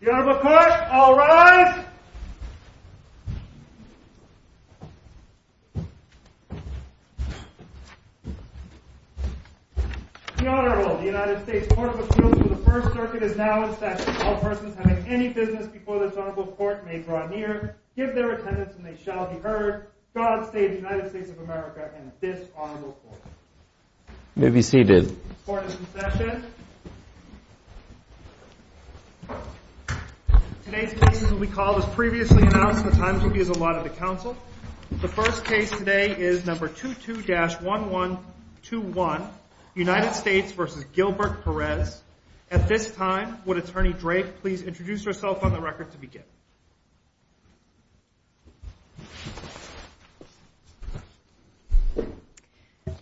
The Honorable Court, all rise! The Honorable United States Court of Appeals for the First Circuit is now in session. All persons having any business before this Honorable Court may draw near, give their attendance, and they shall be heard. God save the United States of America and this Honorable Court. May be seated. Court is in session. Today's cases will be called as previously announced in the times we've used a lot of the Council. The first case today is number 22-1121, United States v. Gilbert Perez. At this time, would Attorney Drake please introduce herself on the record to begin?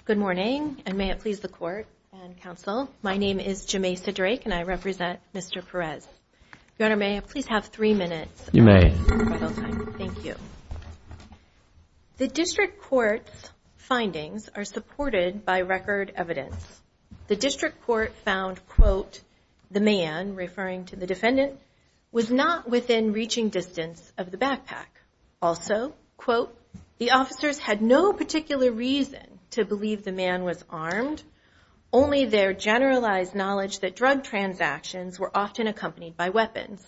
Good morning, and may it please the Court and Council. My name is Jamesa Drake, and I represent Mr. Perez. Your Honor, may I please have three minutes? You may. Thank you. The District Court's findings are supported by record evidence. The District Court found, quote, the man, referring to the defendant, was not within reaching distance of the backpack. Also, quote, the officers had no particular reason to believe the man was armed. Only their generalized knowledge that drug transactions were often accompanied by weapons.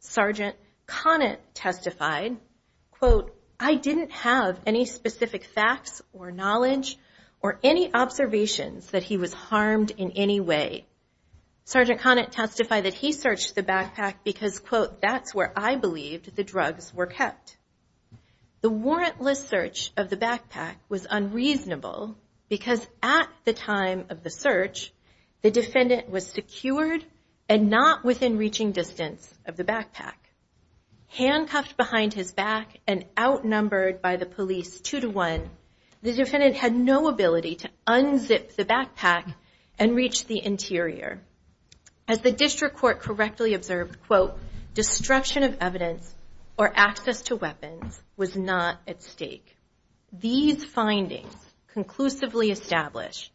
Sergeant Conant testified, quote, I didn't have any specific facts or knowledge or any observations that he was harmed in any way. Sergeant Conant testified that he searched the backpack because, quote, that's where I believed the drugs were kept. The warrantless search of the backpack was unreasonable because at the time of the search, the defendant was secured and not within reaching distance of the backpack. Handcuffed behind his back and outnumbered by the police two to one, the defendant had no ability to unzip the backpack and reach the interior. As the District Court correctly observed, quote, destruction of evidence or access to weapons was not at stake. These findings conclusively establish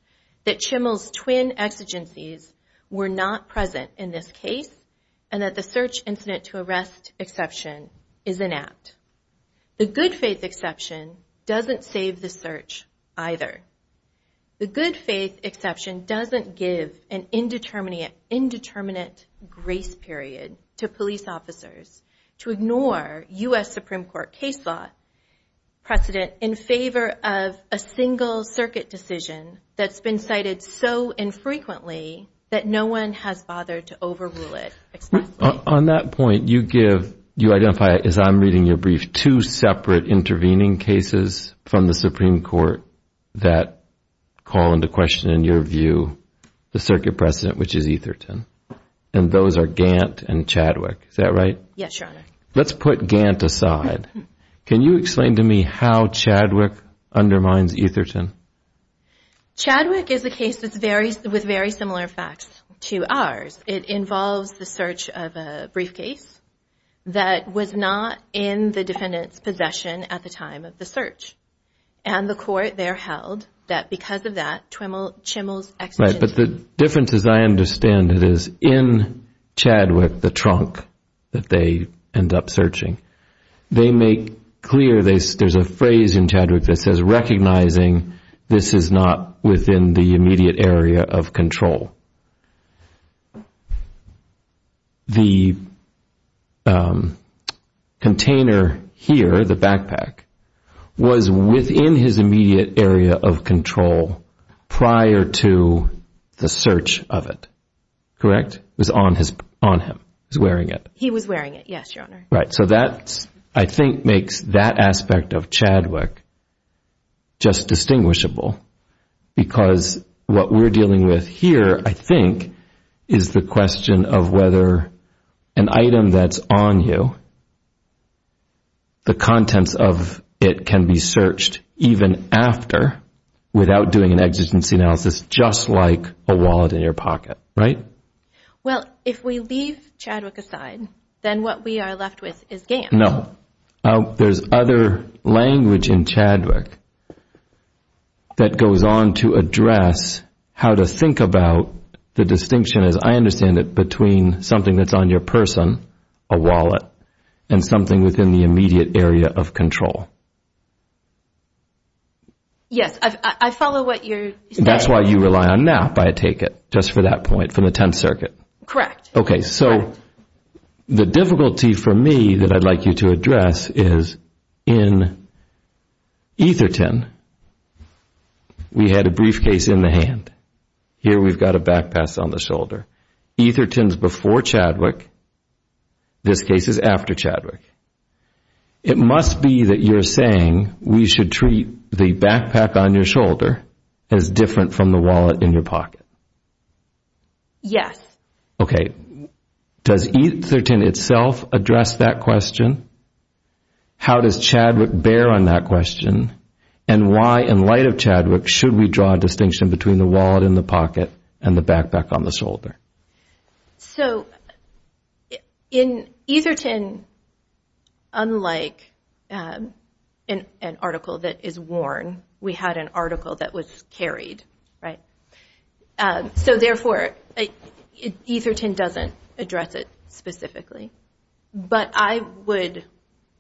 that Chimmel's twin exigencies were not present in this case and that the search incident to arrest exception is inept. The good faith exception doesn't save the search either. The good faith exception doesn't give an indeterminate grace period to police officers to ignore U.S. Supreme Court case law precedent in favor of a single circuit decision that's been cited so infrequently that no one has bothered to overrule it. On that point, you identify, as I'm reading your brief, two separate intervening cases from the Supreme Court that call into question, in your view, the circuit precedent, which is Etherton. And those are Gantt and Chadwick. Is that right? Yes, Your Honor. Let's put Gantt aside. Can you explain to me how Chadwick undermines Etherton? Chadwick is a case with very similar facts to ours. It involves the search of a briefcase that was not in the defendant's possession at the time of the search. And the court there held that because of that, Chimmel's exigency... Right, but the difference, as I understand it, is in Chadwick, the trunk that they end up searching, they make clear, there's a phrase in Chadwick that says, recognizing this is not within the immediate area of control. The container here, the backpack, was within his immediate area of control prior to the search of it. Correct? It was on him. He was wearing it. Yes, Your Honor. So that, I think, makes that aspect of Chadwick just distinguishable. Because what we're dealing with here, I think, is the question of whether an item that's on you, the contents of it can be searched even after, without doing an exigency analysis, just like a wallet in your pocket, right? Well, if we leave Chadwick aside, then what we are left with is GAMS. No. There's other language in Chadwick that goes on to address how to think about the distinction, as I understand it, between something that's on your person, a wallet, and something within the immediate area of control. Yes, I follow what you're saying. That's why you rely on NAP, I take it, just for that point, from the Tenth Circuit. Correct. Okay, so the difficulty for me that I'd like you to address is, in Etherton, we had a briefcase in the hand. Here we've got a backpack on the shoulder. Etherton's before Chadwick. This case is after Chadwick. It must be that you're saying we should treat the backpack on your shoulder as different from the wallet in your pocket. Yes. Okay. Does Etherton itself address that question? How does Chadwick bear on that question? And why, in light of Chadwick, should we draw a distinction between the wallet in the pocket and the backpack on the shoulder? So, in Etherton, unlike an article that is worn, we had an article that was carried, right? So, therefore, Etherton doesn't address it specifically. But I would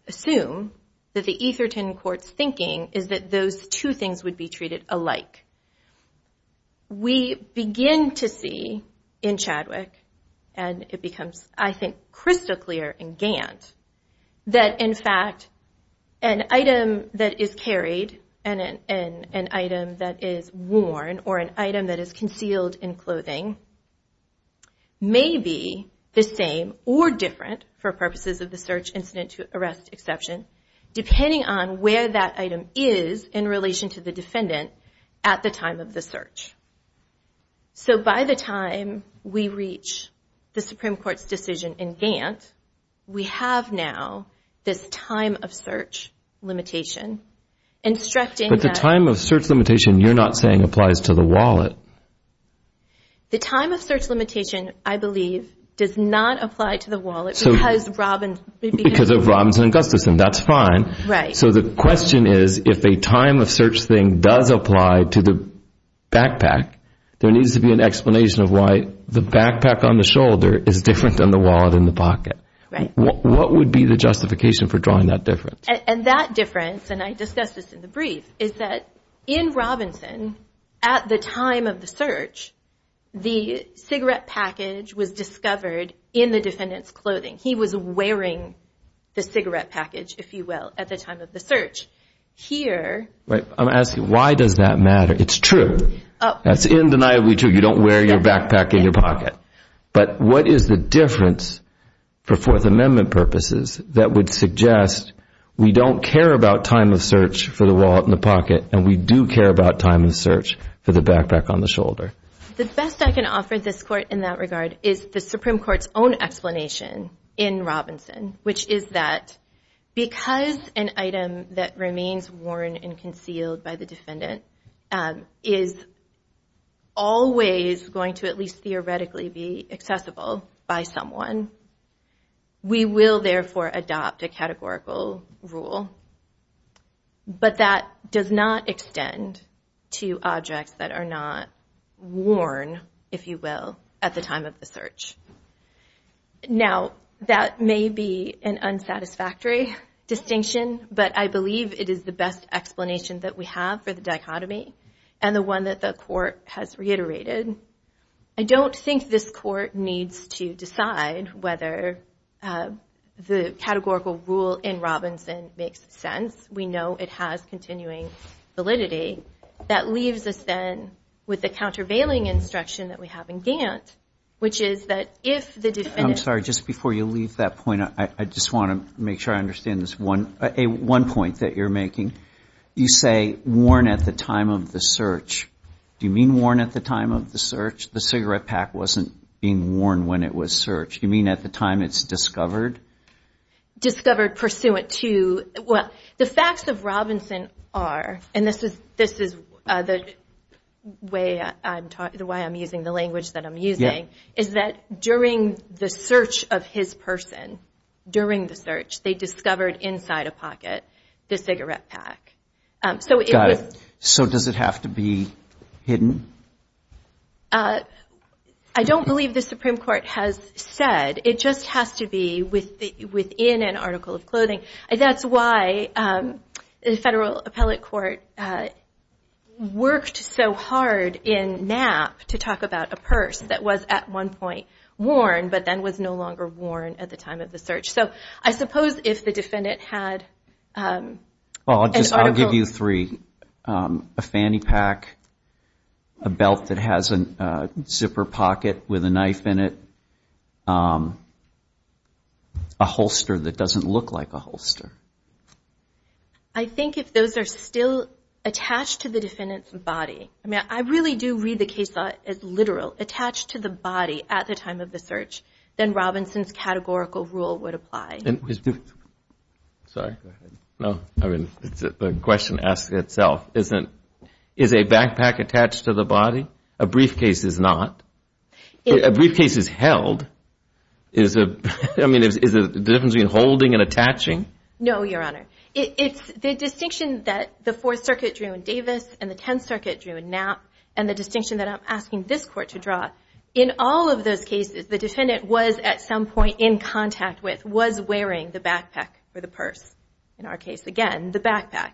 assume that the Etherton court's thinking is that those two things would be treated alike. We begin to see, in Chadwick, and it becomes, I think, crystal clear in Gant, that, in fact, an item that is carried and an item that is worn or an item that is concealed in clothing may be the same or different, for purposes of the search, incident to arrest exception, depending on where that item is in relation to the defendant at the time of the search. So, by the time we reach the Supreme Court's decision in Gant, we have now this time-of-search limitation instructing that... But the time-of-search limitation you're not saying applies to the wallet. The time-of-search limitation, I believe, does not apply to the wallet because of Robbins and Augustus, and that's fine. Right. So, the question is, if a time-of-search thing does apply to the backpack, there needs to be an explanation of why the backpack on the shoulder is different than the wallet in the pocket. Right. What would be the justification for drawing that difference? And that difference, and I discussed this in the brief, is that in Robinson, at the time of the search, the cigarette package was discovered in the defendant's clothing. He was wearing the cigarette package, if you will, at the time of the search. Here... I'm asking, why does that matter? It's true. That's undeniably true. You don't wear your backpack in your pocket. But what is the difference for Fourth Amendment purposes that would suggest we don't care about time-of-search for the wallet in the pocket and we do care about time-of-search for the backpack on the shoulder? The best I can offer this Court in that regard is the Supreme Court's own explanation in Robinson, which is that because an item that remains worn and concealed by the defendant is always going to at least theoretically be accessible by someone, we will therefore adopt a categorical rule. But that does not extend to objects that are not worn, if you will, at the time of the search. Now, that may be an unsatisfactory distinction, but I believe it is the best explanation that we have for the dichotomy and the one that the Court has reiterated. I don't think this Court needs to decide whether the categorical rule in Robinson makes sense. We know it has continuing validity. That leaves us then with the countervailing instruction that we have in Gantt, which is that if the defendant... I'm sorry, just before you leave that point, I just want to make sure I understand this one point that you're making. You say worn at the time of the search. Do you mean worn at the time of the search? The cigarette pack wasn't being worn when it was searched. You mean at the time it's discovered? Discovered pursuant to... Well, the facts of Robinson are, and this is the way I'm using the language that I'm using, is that during the search of his person, during the search, they discovered inside a pocket the cigarette pack. Got it. So does it have to be hidden? I don't believe the Supreme Court has said. It just has to be within an article of clothing. That's why the federal appellate court worked so hard in Knapp to talk about a purse that was at one point worn, but then was no longer worn at the time of the search. So I suppose if the defendant had an article... I'll give you three. A fanny pack, a belt that has a zipper pocket with a knife in it, a holster that doesn't look like a holster. I think if those are still attached to the defendant's body, I mean I really do read the case as literal, attached to the body at the time of the search, then Robinson's categorical rule would apply. Sorry. Go ahead. No, I mean the question asks itself. Is a backpack attached to the body? A briefcase is not. A briefcase is held. I mean is there a difference between holding and attaching? No, Your Honor. It's the distinction that the Fourth Circuit drew in Davis and the Tenth Circuit drew in Knapp and the distinction that I'm asking this Court to draw. In all of those cases, the defendant was at some point in contact with, was wearing the backpack or the purse, in our case again, the backpack.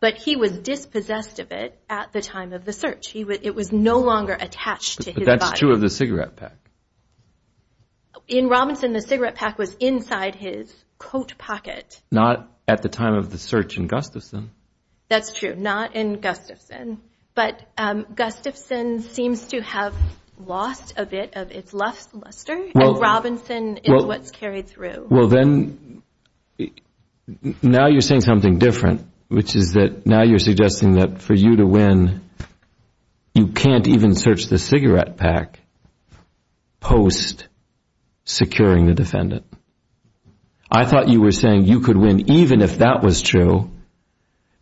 But he was dispossessed of it at the time of the search. It was no longer attached to his body. But that's true of the cigarette pack. In Robinson, the cigarette pack was inside his coat pocket. Not at the time of the search in Gustafson. That's true, not in Gustafson. But Gustafson seems to have lost a bit of its luster, and Robinson is what's carried through. Well, then now you're saying something different, which is that now you're suggesting that for you to win, you can't even search the cigarette pack post securing the defendant. I thought you were saying you could win even if that was true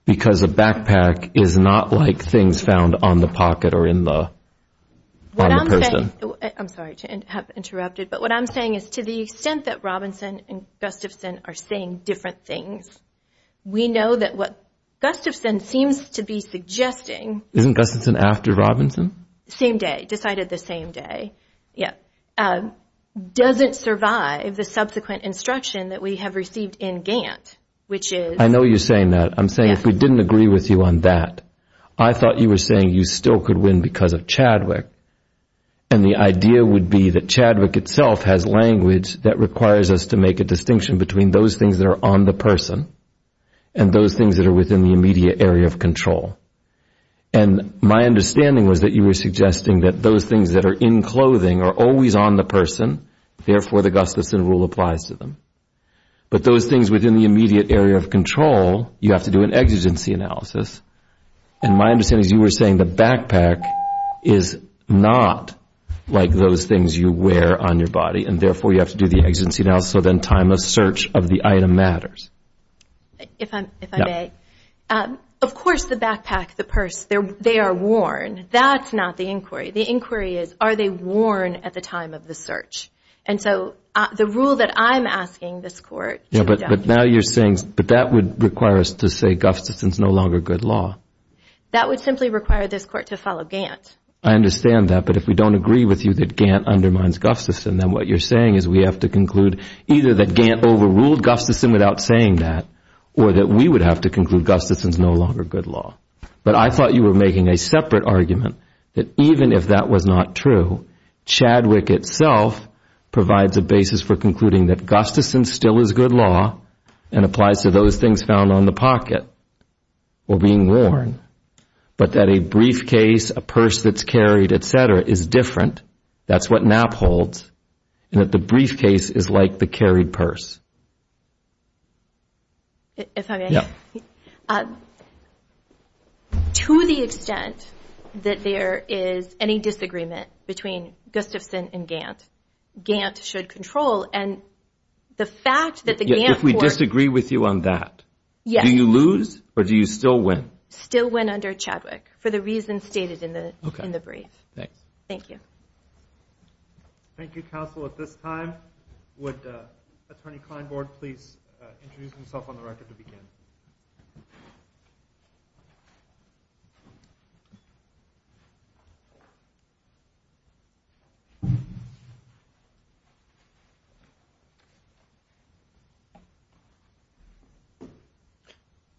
because a backpack is not like things found on the pocket or in the person. I'm sorry to have interrupted, but what I'm saying is to the extent that Robinson and Gustafson are saying different things, we know that what Gustafson seems to be suggesting Isn't Gustafson after Robinson? Same day, decided the same day, yeah, doesn't survive the subsequent instruction that we have received in Gant, which is I know you're saying that. I'm saying if we didn't agree with you on that, I thought you were saying you still could win because of Chadwick, and the idea would be that Chadwick itself has language that requires us to make a distinction between those things that are on the person and those things that are within the immediate area of control. And my understanding was that you were suggesting that those things that are in clothing are always on the person, therefore the Gustafson rule applies to them. But those things within the immediate area of control, you have to do an exigency analysis, and my understanding is you were saying the backpack is not like those things you wear on your body, and therefore you have to do the exigency analysis, so then time of search of the item matters. If I may, of course the backpack, the purse, they are worn. That's not the inquiry. The inquiry is are they worn at the time of the search? And so the rule that I'm asking this Court to adopt. Yeah, but now you're saying, but that would require us to say Gustafson is no longer good law. That would simply require this Court to follow Gant. I understand that. But if we don't agree with you that Gant undermines Gustafson, then what you're saying is we have to conclude either that Gant overruled Gustafson without saying that, or that we would have to conclude Gustafson is no longer good law. But I thought you were making a separate argument that even if that was not true, Chadwick itself provides a basis for concluding that Gustafson still is good law and applies to those things found on the pocket or being worn, but that a briefcase, a purse that's carried, et cetera, is different. That's what Knapp holds, and that the briefcase is like the carried purse. If I may, to the extent that there is any disagreement between Gustafson and Gant, Gant should control. And the fact that the Gant Court— If we disagree with you on that, do you lose or do you still win? Still win under Chadwick for the reasons stated in the brief. Okay. Thanks. Thank you. Thank you, counsel. At this time, would Attorney Kleinborg please introduce himself on the record to begin?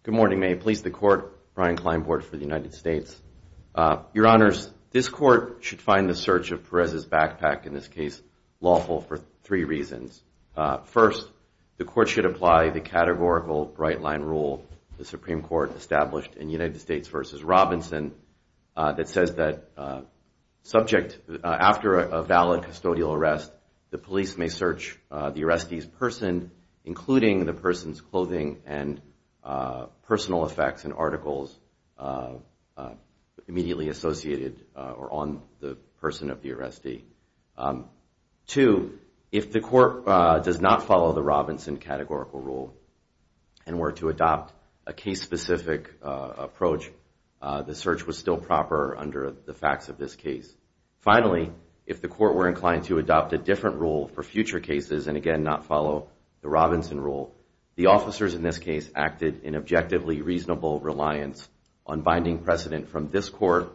Good morning. May it please the Court, Brian Kleinborg for the United States. Your Honors, this Court should find the search of Perez's backpack, in this case lawful, for three reasons. First, the Court should apply the categorical right-line rule the Supreme Court established in United States v. Robinson that says that subject, after a valid custodial arrest, the police may search the arrestee's person, including the person's clothing and personal effects and articles immediately associated or on the person of the arrestee. Two, if the Court does not follow the Robinson categorical rule and were to adopt a case-specific approach, the search was still proper under the facts of this case. Finally, if the Court were inclined to adopt a different rule for future cases and again not follow the Robinson rule, the officers in this case acted in objectively reasonable reliance on binding precedent from this Court,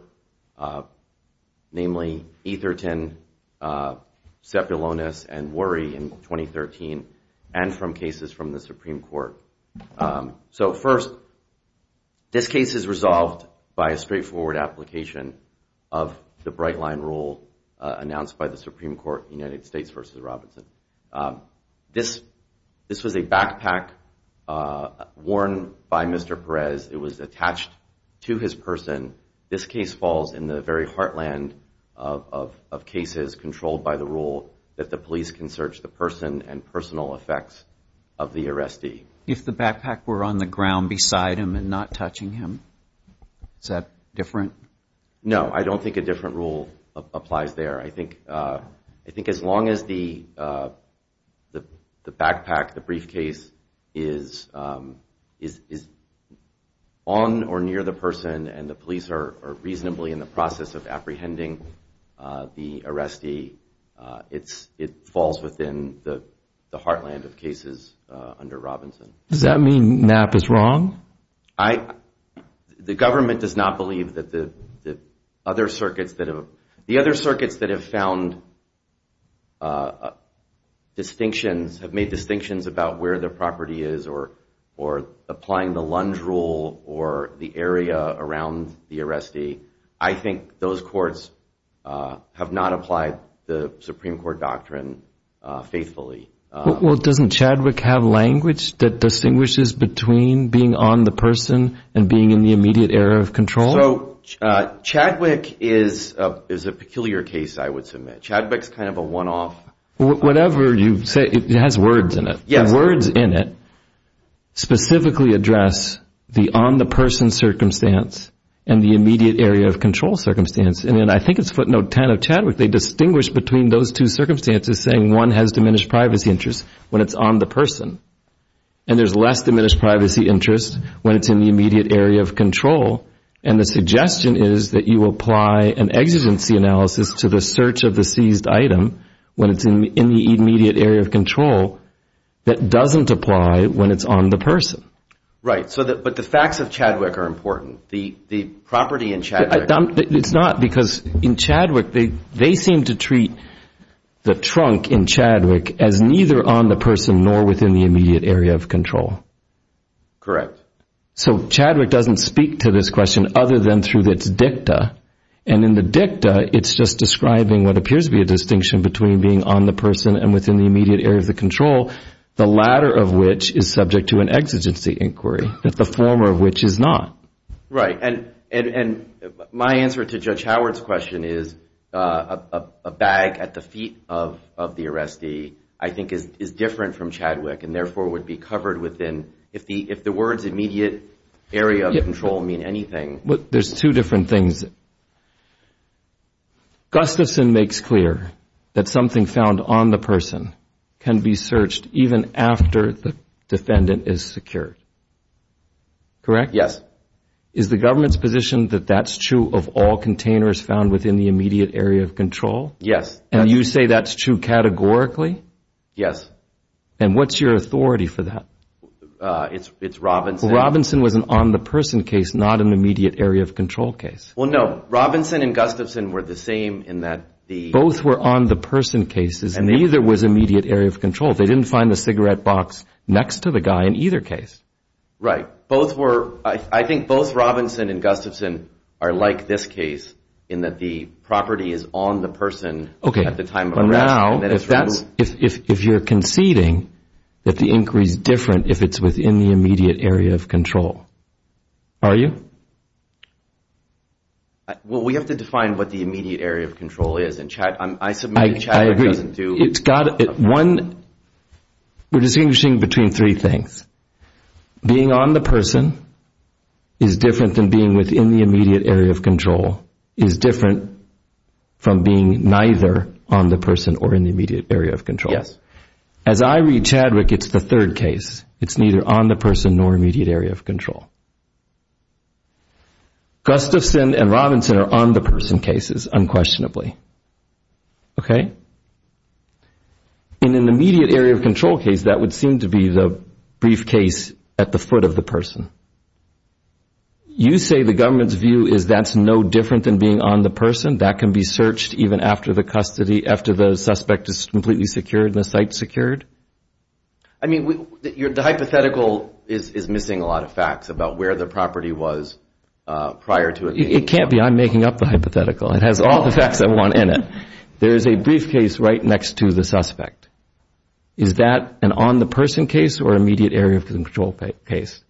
namely Etherton, Cepulonis, and Worry in 2013, and from cases from the Supreme Court. So first, this case is resolved by a straightforward application of the right-line rule announced by the Supreme Court, United States v. Robinson. This was a backpack worn by Mr. Perez. It was attached to his person. This case falls in the very heartland of cases controlled by the rule that the police can search the person and personal effects of the arrestee. If the backpack were on the ground beside him and not touching him, is that different? No, I don't think a different rule applies there. I think as long as the backpack, the briefcase, is on or near the person and the police are reasonably in the process of apprehending the arrestee, it falls within the heartland of cases under Robinson. Does that mean Knapp is wrong? The government does not believe that the other circuits that have found distinctions, have made distinctions about where the property is or applying the Lund rule or the area around the arrestee. I think those courts have not applied the Supreme Court doctrine faithfully. Doesn't Chadwick have language that distinguishes between being on the person and being in the immediate area of control? Chadwick is a peculiar case, I would submit. Chadwick is kind of a one-off. Whatever you say, it has words in it. The words in it specifically address the on-the-person circumstance and the immediate area of control circumstance. I think it's footnote 10 of Chadwick. They distinguish between those two circumstances, saying one has diminished privacy interest when it's on the person and there's less diminished privacy interest when it's in the immediate area of control. And the suggestion is that you apply an exigency analysis to the search of the seized item when it's in the immediate area of control that doesn't apply when it's on the person. Right, but the facts of Chadwick are important. The property in Chadwick... It's not, because in Chadwick, they seem to treat the trunk in Chadwick as neither on the person nor within the immediate area of control. Correct. So Chadwick doesn't speak to this question other than through its dicta, and in the dicta, it's just describing what appears to be a distinction between being on the person and within the immediate area of the control, the latter of which is subject to an exigency inquiry, the former of which is not. Right, and my answer to Judge Howard's question is a bag at the feet of the arrestee I think is different from Chadwick and therefore would be covered within... If the words immediate area of control mean anything... There's two different things. Gustafson makes clear that something found on the person can be searched even after the defendant is secured. Correct? Yes. Is the government's position that that's true of all containers found within the immediate area of control? Yes. And you say that's true categorically? Yes. And what's your authority for that? It's Robinson. Well, Robinson was an on-the-person case, not an immediate area of control case. Well, no. Robinson and Gustafson were the same in that the... Both were on-the-person cases, and neither was immediate area of control. They didn't find the cigarette box next to the guy in either case. Right. Both were... I think both Robinson and Gustafson are like this case in that the property is on the person at the time of arrest. Now, if you're conceding that the inquiry is different if it's within the immediate area of control, are you? Well, we have to define what the immediate area of control is in Chad. I submit that Chad doesn't do... I agree. One, we're distinguishing between three things. Being on the person is different than being within the immediate area of control is different from being neither on the person or in the immediate area of control. Yes. As I read Chadwick, it's the third case. It's neither on the person nor immediate area of control. Gustafson and Robinson are on-the-person cases, unquestionably. Okay? In an immediate area of control case, that would seem to be the briefcase at the foot of the person. You say the government's view is that's no different than being on the person? That can be searched even after the suspect is completely secured and the site's secured? I mean, the hypothetical is missing a lot of facts about where the property was prior to it being searched. It can't be. I'm making up the hypothetical. It has all the facts I want in it. There is a briefcase right next to the suspect. Is that an on-the-person case or an immediate area of control case?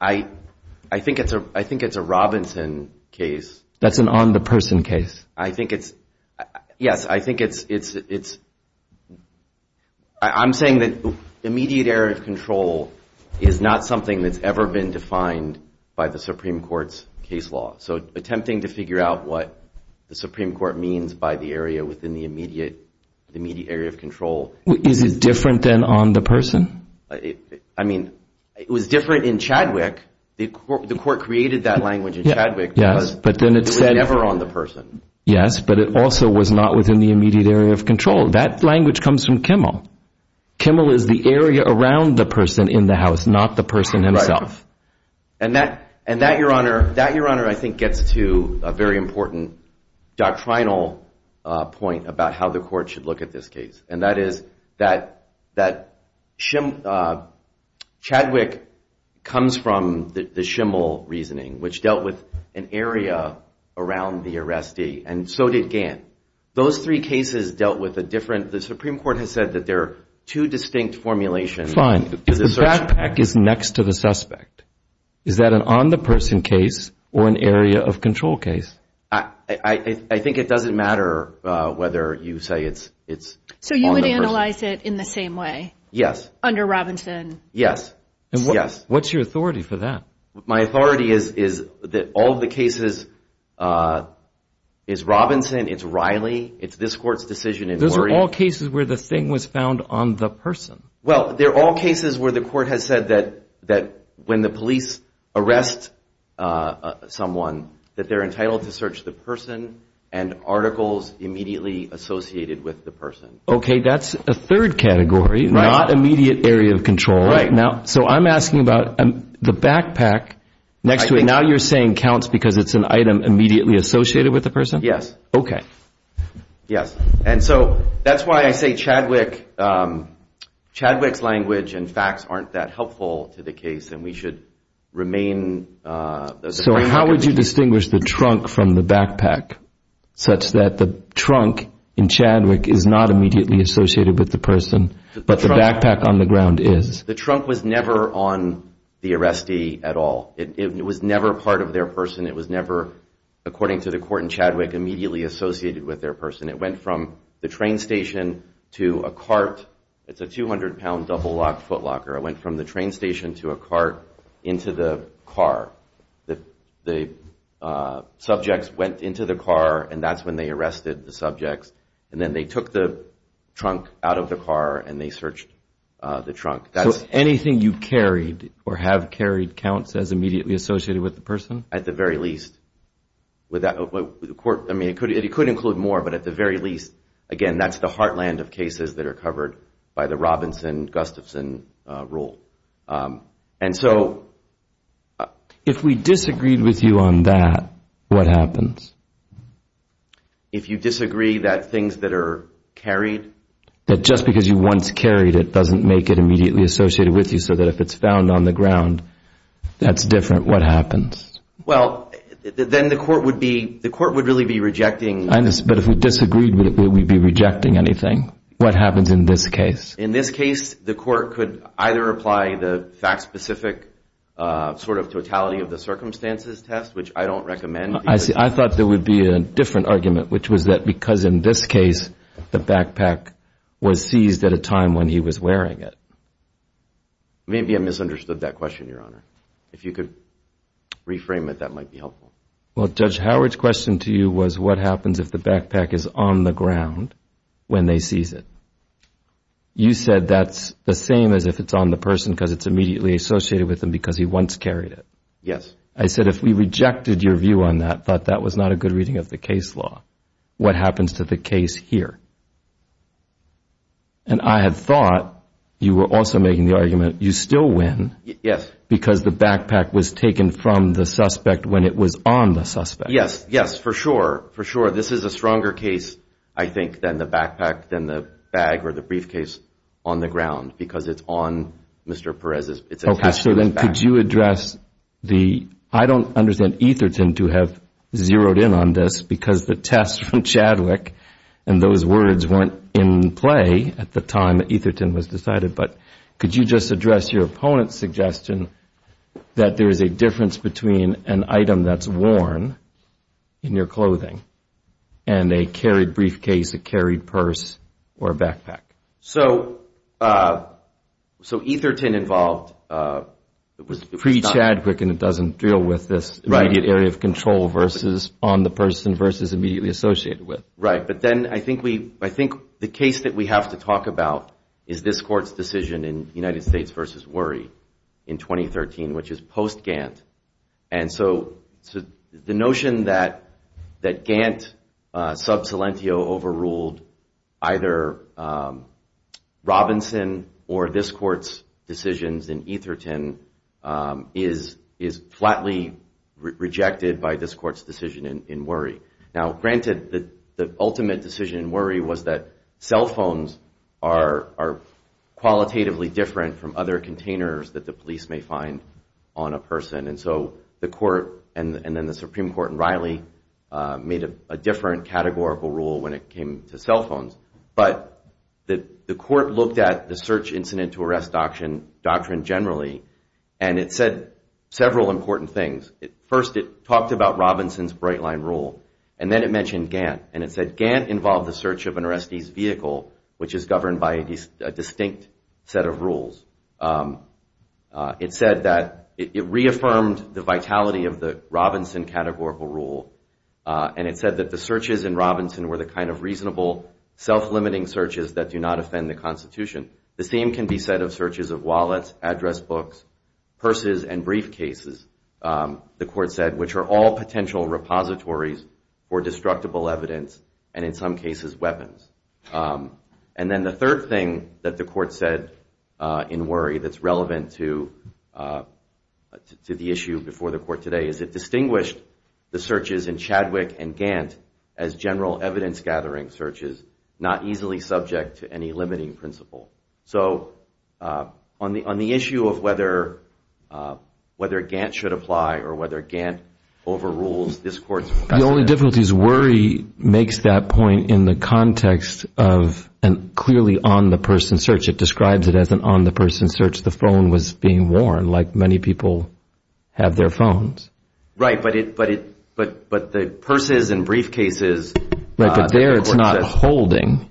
I think it's a Robinson case. That's an on-the-person case. I think it's, yes, I think it's, I'm saying that immediate area of control is not something that's ever been defined by the Supreme Court's case law. So attempting to figure out what the Supreme Court means by the area within the immediate area of control. Is it different than on-the-person? I mean, it was different in Chadwick. The court created that language in Chadwick because it was never on-the-person. Yes, but it also was not within the immediate area of control. That language comes from Kimmel. Kimmel is the area around the person in the house, not the person himself. And that, Your Honor, I think gets to a very important doctrinal point about how the court should look at this case. And that is that Chadwick comes from the Schimmel reasoning, which dealt with an area around the arrestee, and so did Gant. Those three cases dealt with a different, the Supreme Court has said that there are two distinct formulations. Fine. If the backpack is next to the suspect, is that an on-the-person case or an area-of-control case? I think it doesn't matter whether you say it's on-the-person. So you would analyze it in the same way? Yes. Under Robinson? Yes. And what's your authority for that? My authority is that all the cases, it's Robinson, it's Riley, it's this court's decision in Warrior. Those are all cases where the thing was found on the person. Well, they're all cases where the court has said that when the police arrest someone, that they're entitled to search the person and articles immediately associated with the person. Okay. That's a third category, not immediate area of control. Right. So I'm asking about the backpack next to it. Now you're saying counts because it's an item immediately associated with the person? Yes. Okay. Yes. And so that's why I say Chadwick, Chadwick's language and facts aren't that helpful to the case and we should remain... So how would you distinguish the trunk from the backpack such that the trunk in Chadwick is not immediately associated with the person, but the backpack on the ground is? The trunk was never on the arrestee at all. It was never part of their person. It was never, according to the court in Chadwick, immediately associated with their person. It went from the train station to a cart. It's a 200-pound double-lock footlocker. It went from the train station to a cart into the car. The subjects went into the car and that's when they arrested the subjects and then they took the trunk out of the car and they searched the trunk. So anything you carried or have carried counts as immediately associated with the person? At the very least. I mean, it could include more, but at the very least, again, that's the heartland of cases that are covered by the Robinson-Gustafson rule. And so... If we disagreed with you on that, what happens? If you disagree that things that are carried... That just because you once carried it doesn't make it immediately associated with you so that if it's found on the ground, that's different, what happens? Well, then the court would be... The court would really be rejecting... But if we disagreed, would we be rejecting anything? What happens in this case? In this case, the court could either apply the fact-specific sort of totality of the circumstances test, which I don't recommend... I thought there would be a different argument, which was that because in this case, the backpack was seized at a time when he was wearing it. Maybe I misunderstood that question, Your Honor. If you could reframe it, that might be helpful. Well, Judge Howard's question to you was what happens if the backpack is on the ground when they seize it? You said that's the same as if it's on the person because it's immediately associated with him because he once carried it. Yes. I said if we rejected your view on that, thought that was not a good reading of the case law, what happens to the case here? And I had thought you were also making the argument that you still win because the backpack was taken from the suspect when it was on the suspect. Yes, yes, for sure, for sure. This is a stronger case, I think, than the backpack, than the bag or the briefcase on the ground because it's on Mr. Perez's... Okay, so then could you address the... I don't understand Etherton to have zeroed in on this because the test from Chadwick and those words weren't in play at the time that Etherton was decided, but could you just address your opponent's suggestion that there is a difference between an item that's worn in your clothing and a carried briefcase, a carried purse, or a backpack? So Etherton involved... It was pre-Chadwick and it doesn't deal with this immediate area of control versus on the person versus immediately associated with. Right, but then I think the case that we have to talk about is this court's decision in United States v. Worry in 2013, which is post-Gantt. And so the notion that Gantt sub silentio overruled either Robinson or this court's decisions in Etherton is flatly rejected by this court's decision in Worry. Now, granted, the ultimate decision in Worry was that cell phones are qualitatively different from other containers that the police may find on a person. And so the court and then the Supreme Court and Riley made a different categorical rule when it came to cell phones. But the court looked at the search incident to arrest doctrine generally and it said several important things. First, it talked about Robinson's bright line rule and then it mentioned Gantt. And it said Gantt involved the search of an arrestee's vehicle, which is governed by a distinct set of rules. It said that it reaffirmed the vitality of the Robinson categorical rule and it said that the searches in Robinson were the kind of reasonable, self-limiting searches that do not offend the Constitution. The same can be said of searches of wallets, address books, purses, and briefcases, the court said, which are all potential repositories for destructible evidence and in some cases, weapons. And then the third thing that the court said in Worry that's relevant to the issue before the court today is it distinguished the searches in Chadwick and Gantt as general evidence-gathering searches, not easily subject to any limiting principle. So on the issue of whether Gantt should apply or whether Gantt overrules this court's process. The only difficulty is Worry makes that point in the context of a clearly on-the-person search. It describes it as an on-the-person search. The phone was being worn, like many people have their phones. Right, but the purses and briefcases, the court says. Right, but there it's not holding.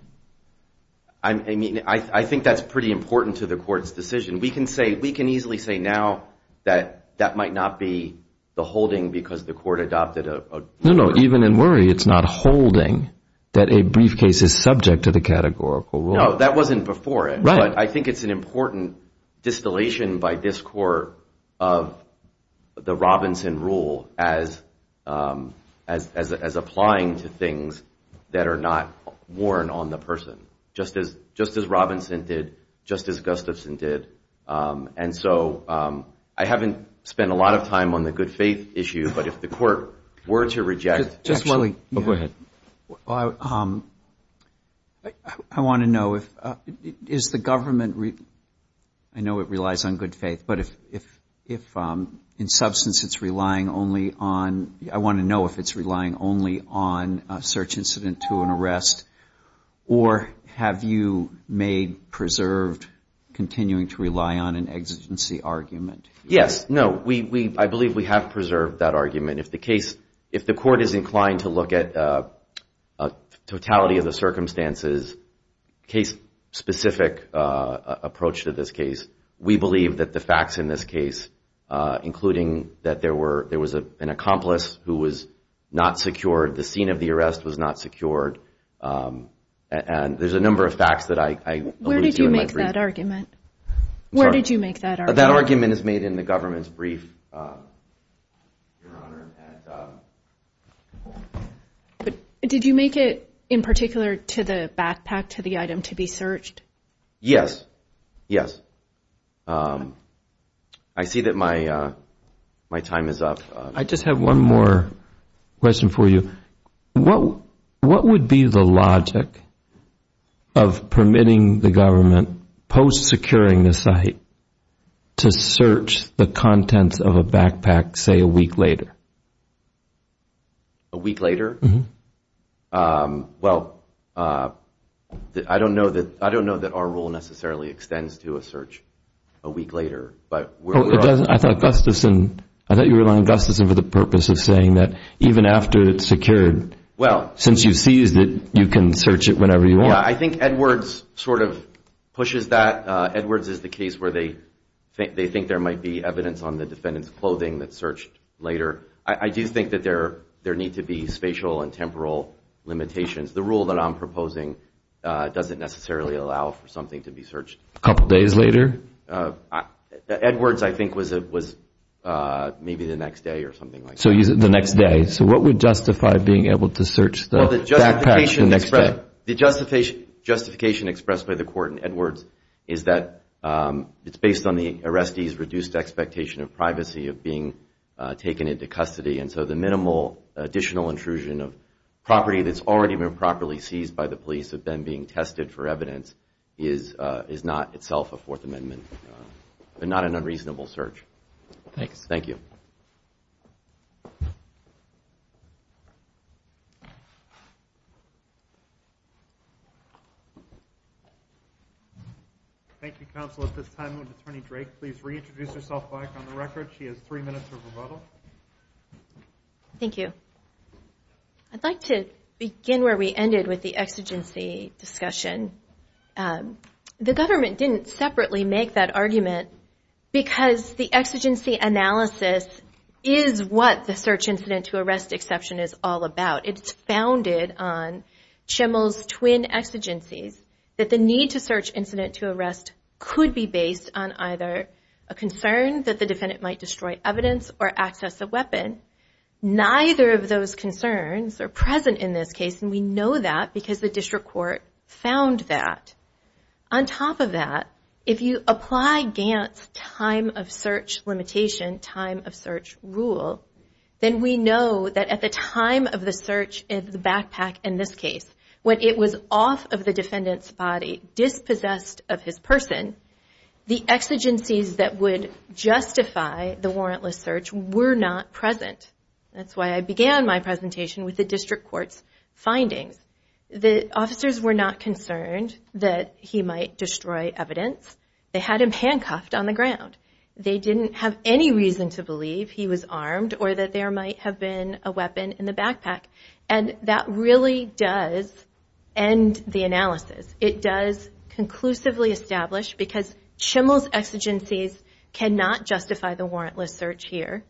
I mean, I think that's pretty important to the court's decision. We can easily say now that that might not be the holding because the court adopted a ruler. No, no, even in Worry it's not holding that a briefcase is subject to the categorical rule. No, that wasn't before it. Right. But I think it's an important distillation by this court of the Robinson rule as applying to things that are not worn on the person. Just as Robinson did, just as Gustafson did. And so I haven't spent a lot of time on the good faith issue, but if the court were to reject... Go ahead. I want to know is the government... I know it relies on good faith, but if in substance it's relying only on... I want to know if it's relying only on a search incident to an arrest or have you made preserved continuing to rely on an exigency argument? Yes. No, I believe we have preserved that argument. If the court is inclined to look at totality of the circumstances, case-specific approach to this case, we believe that the facts in this case, including that there was an accomplice who was not secured, the scene of the arrest was not secured, and there's a number of facts that I alluded to in my brief. Where did you make that argument? I'm sorry. Where did you make that argument? That argument is made in the government's brief, Your Honor. Did you make it in particular to the backpack, to the item, to be searched? Yes. Yes. I see that my time is up. I just have one more question for you. What would be the logic of permitting the government post-securing the site to search the contents of a backpack, say, a week later? A week later? Well, I don't know that our rule necessarily extends to a search a week later. I thought you were allowing Gustafson for the purpose of saying that even after it's secured, since you seized it, you can search it whenever you want. Yeah, I think Edwards sort of pushes that. Edwards is the case where they think there might be evidence on the defendant's clothing that's searched later. I do think that there need to be spatial and temporal limitations. The rule that I'm proposing doesn't necessarily allow for something to be searched. A couple days later? Edwards, I think, was maybe the next day or something like that. So is it the next day? So what would justify being able to search the backpack the next day? The justification expressed by the court in Edwards is that it's based on the arrestee's reduced expectation of privacy, of being taken into custody, and so the minimal additional intrusion of property that's already been properly seized by the police that have been being tested for evidence is not itself a Fourth Amendment, and not an unreasonable search. Thanks. Thank you. Thank you, counsel. At this time, would Attorney Drake please reintroduce herself back on the record? She has three minutes of rebuttal. Thank you. I'd like to begin where we ended with the exigency discussion. The government didn't separately make that argument because the exigency analysis is what the search incident to arrest exception is all about. It's founded on Schimel's twin exigencies, that the need to search incident to arrest could be based on either a concern that the defendant might destroy evidence or access a weapon. Neither of those concerns are present in this case, and we know that because the district court found that. On top of that, if you apply Gantt's time of search limitation, time of search rule, then we know that at the time of the search of the backpack in this case, when it was off of the defendant's body, dispossessed of his person, the exigencies that would justify the warrantless search were not present. That's why I began my presentation with the district court's findings. The officers were not concerned that he might destroy evidence. They had him handcuffed on the ground. They didn't have any reason to believe he was armed or that there might have been a weapon in the backpack. And that really does end the analysis. It does conclusively establish, because Schimel's exigencies cannot justify the warrantless search here,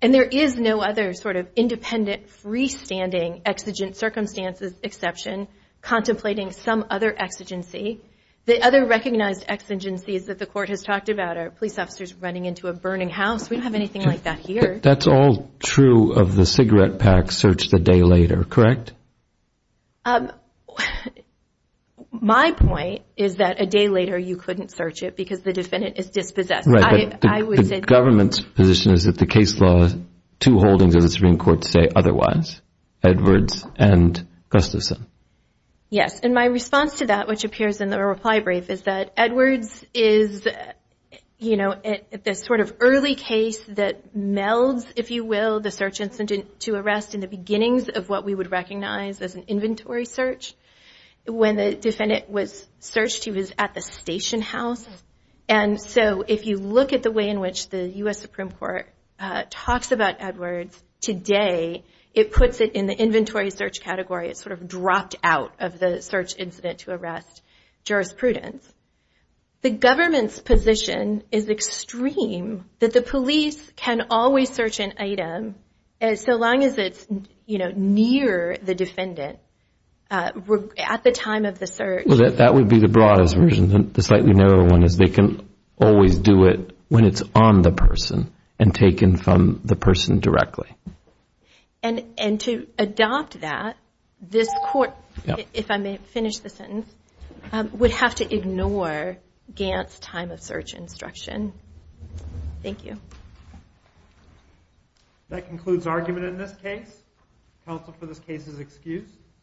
and there is no other sort of independent, freestanding exigent circumstances exception contemplating some other exigency. The other recognized exigencies that the court has talked about are police officers running into a burning house. We don't have anything like that here. That's all true of the cigarette pack search the day later, correct? My point is that a day later you couldn't search it because the defendant is dispossessed. Right, but the government's position is that the case law, two holdings of the Supreme Court say otherwise, Edwards and Gustafson. Yes, and my response to that, which appears in the reply brief, is that Edwards is the sort of early case that melds, if you will, the search incident to arrest in the beginnings of what we would recognize as an inventory search. When the defendant was searched, he was at the station house. And so if you look at the way in which the U.S. Supreme Court talks about Edwards today, it puts it in the inventory search category. It's sort of dropped out of the search incident to arrest jurisprudence. The government's position is extreme that the police can always search an item so long as it's near the defendant at the time of the search. Well, that would be the broadest version. The slightly narrower one is they can always do it when it's on the person and taken from the person directly. And to adopt that, this court, if I may finish the sentence, would have to ignore Gant's time of search instruction. Thank you. That concludes argument in this case. Counsel for this case is excused.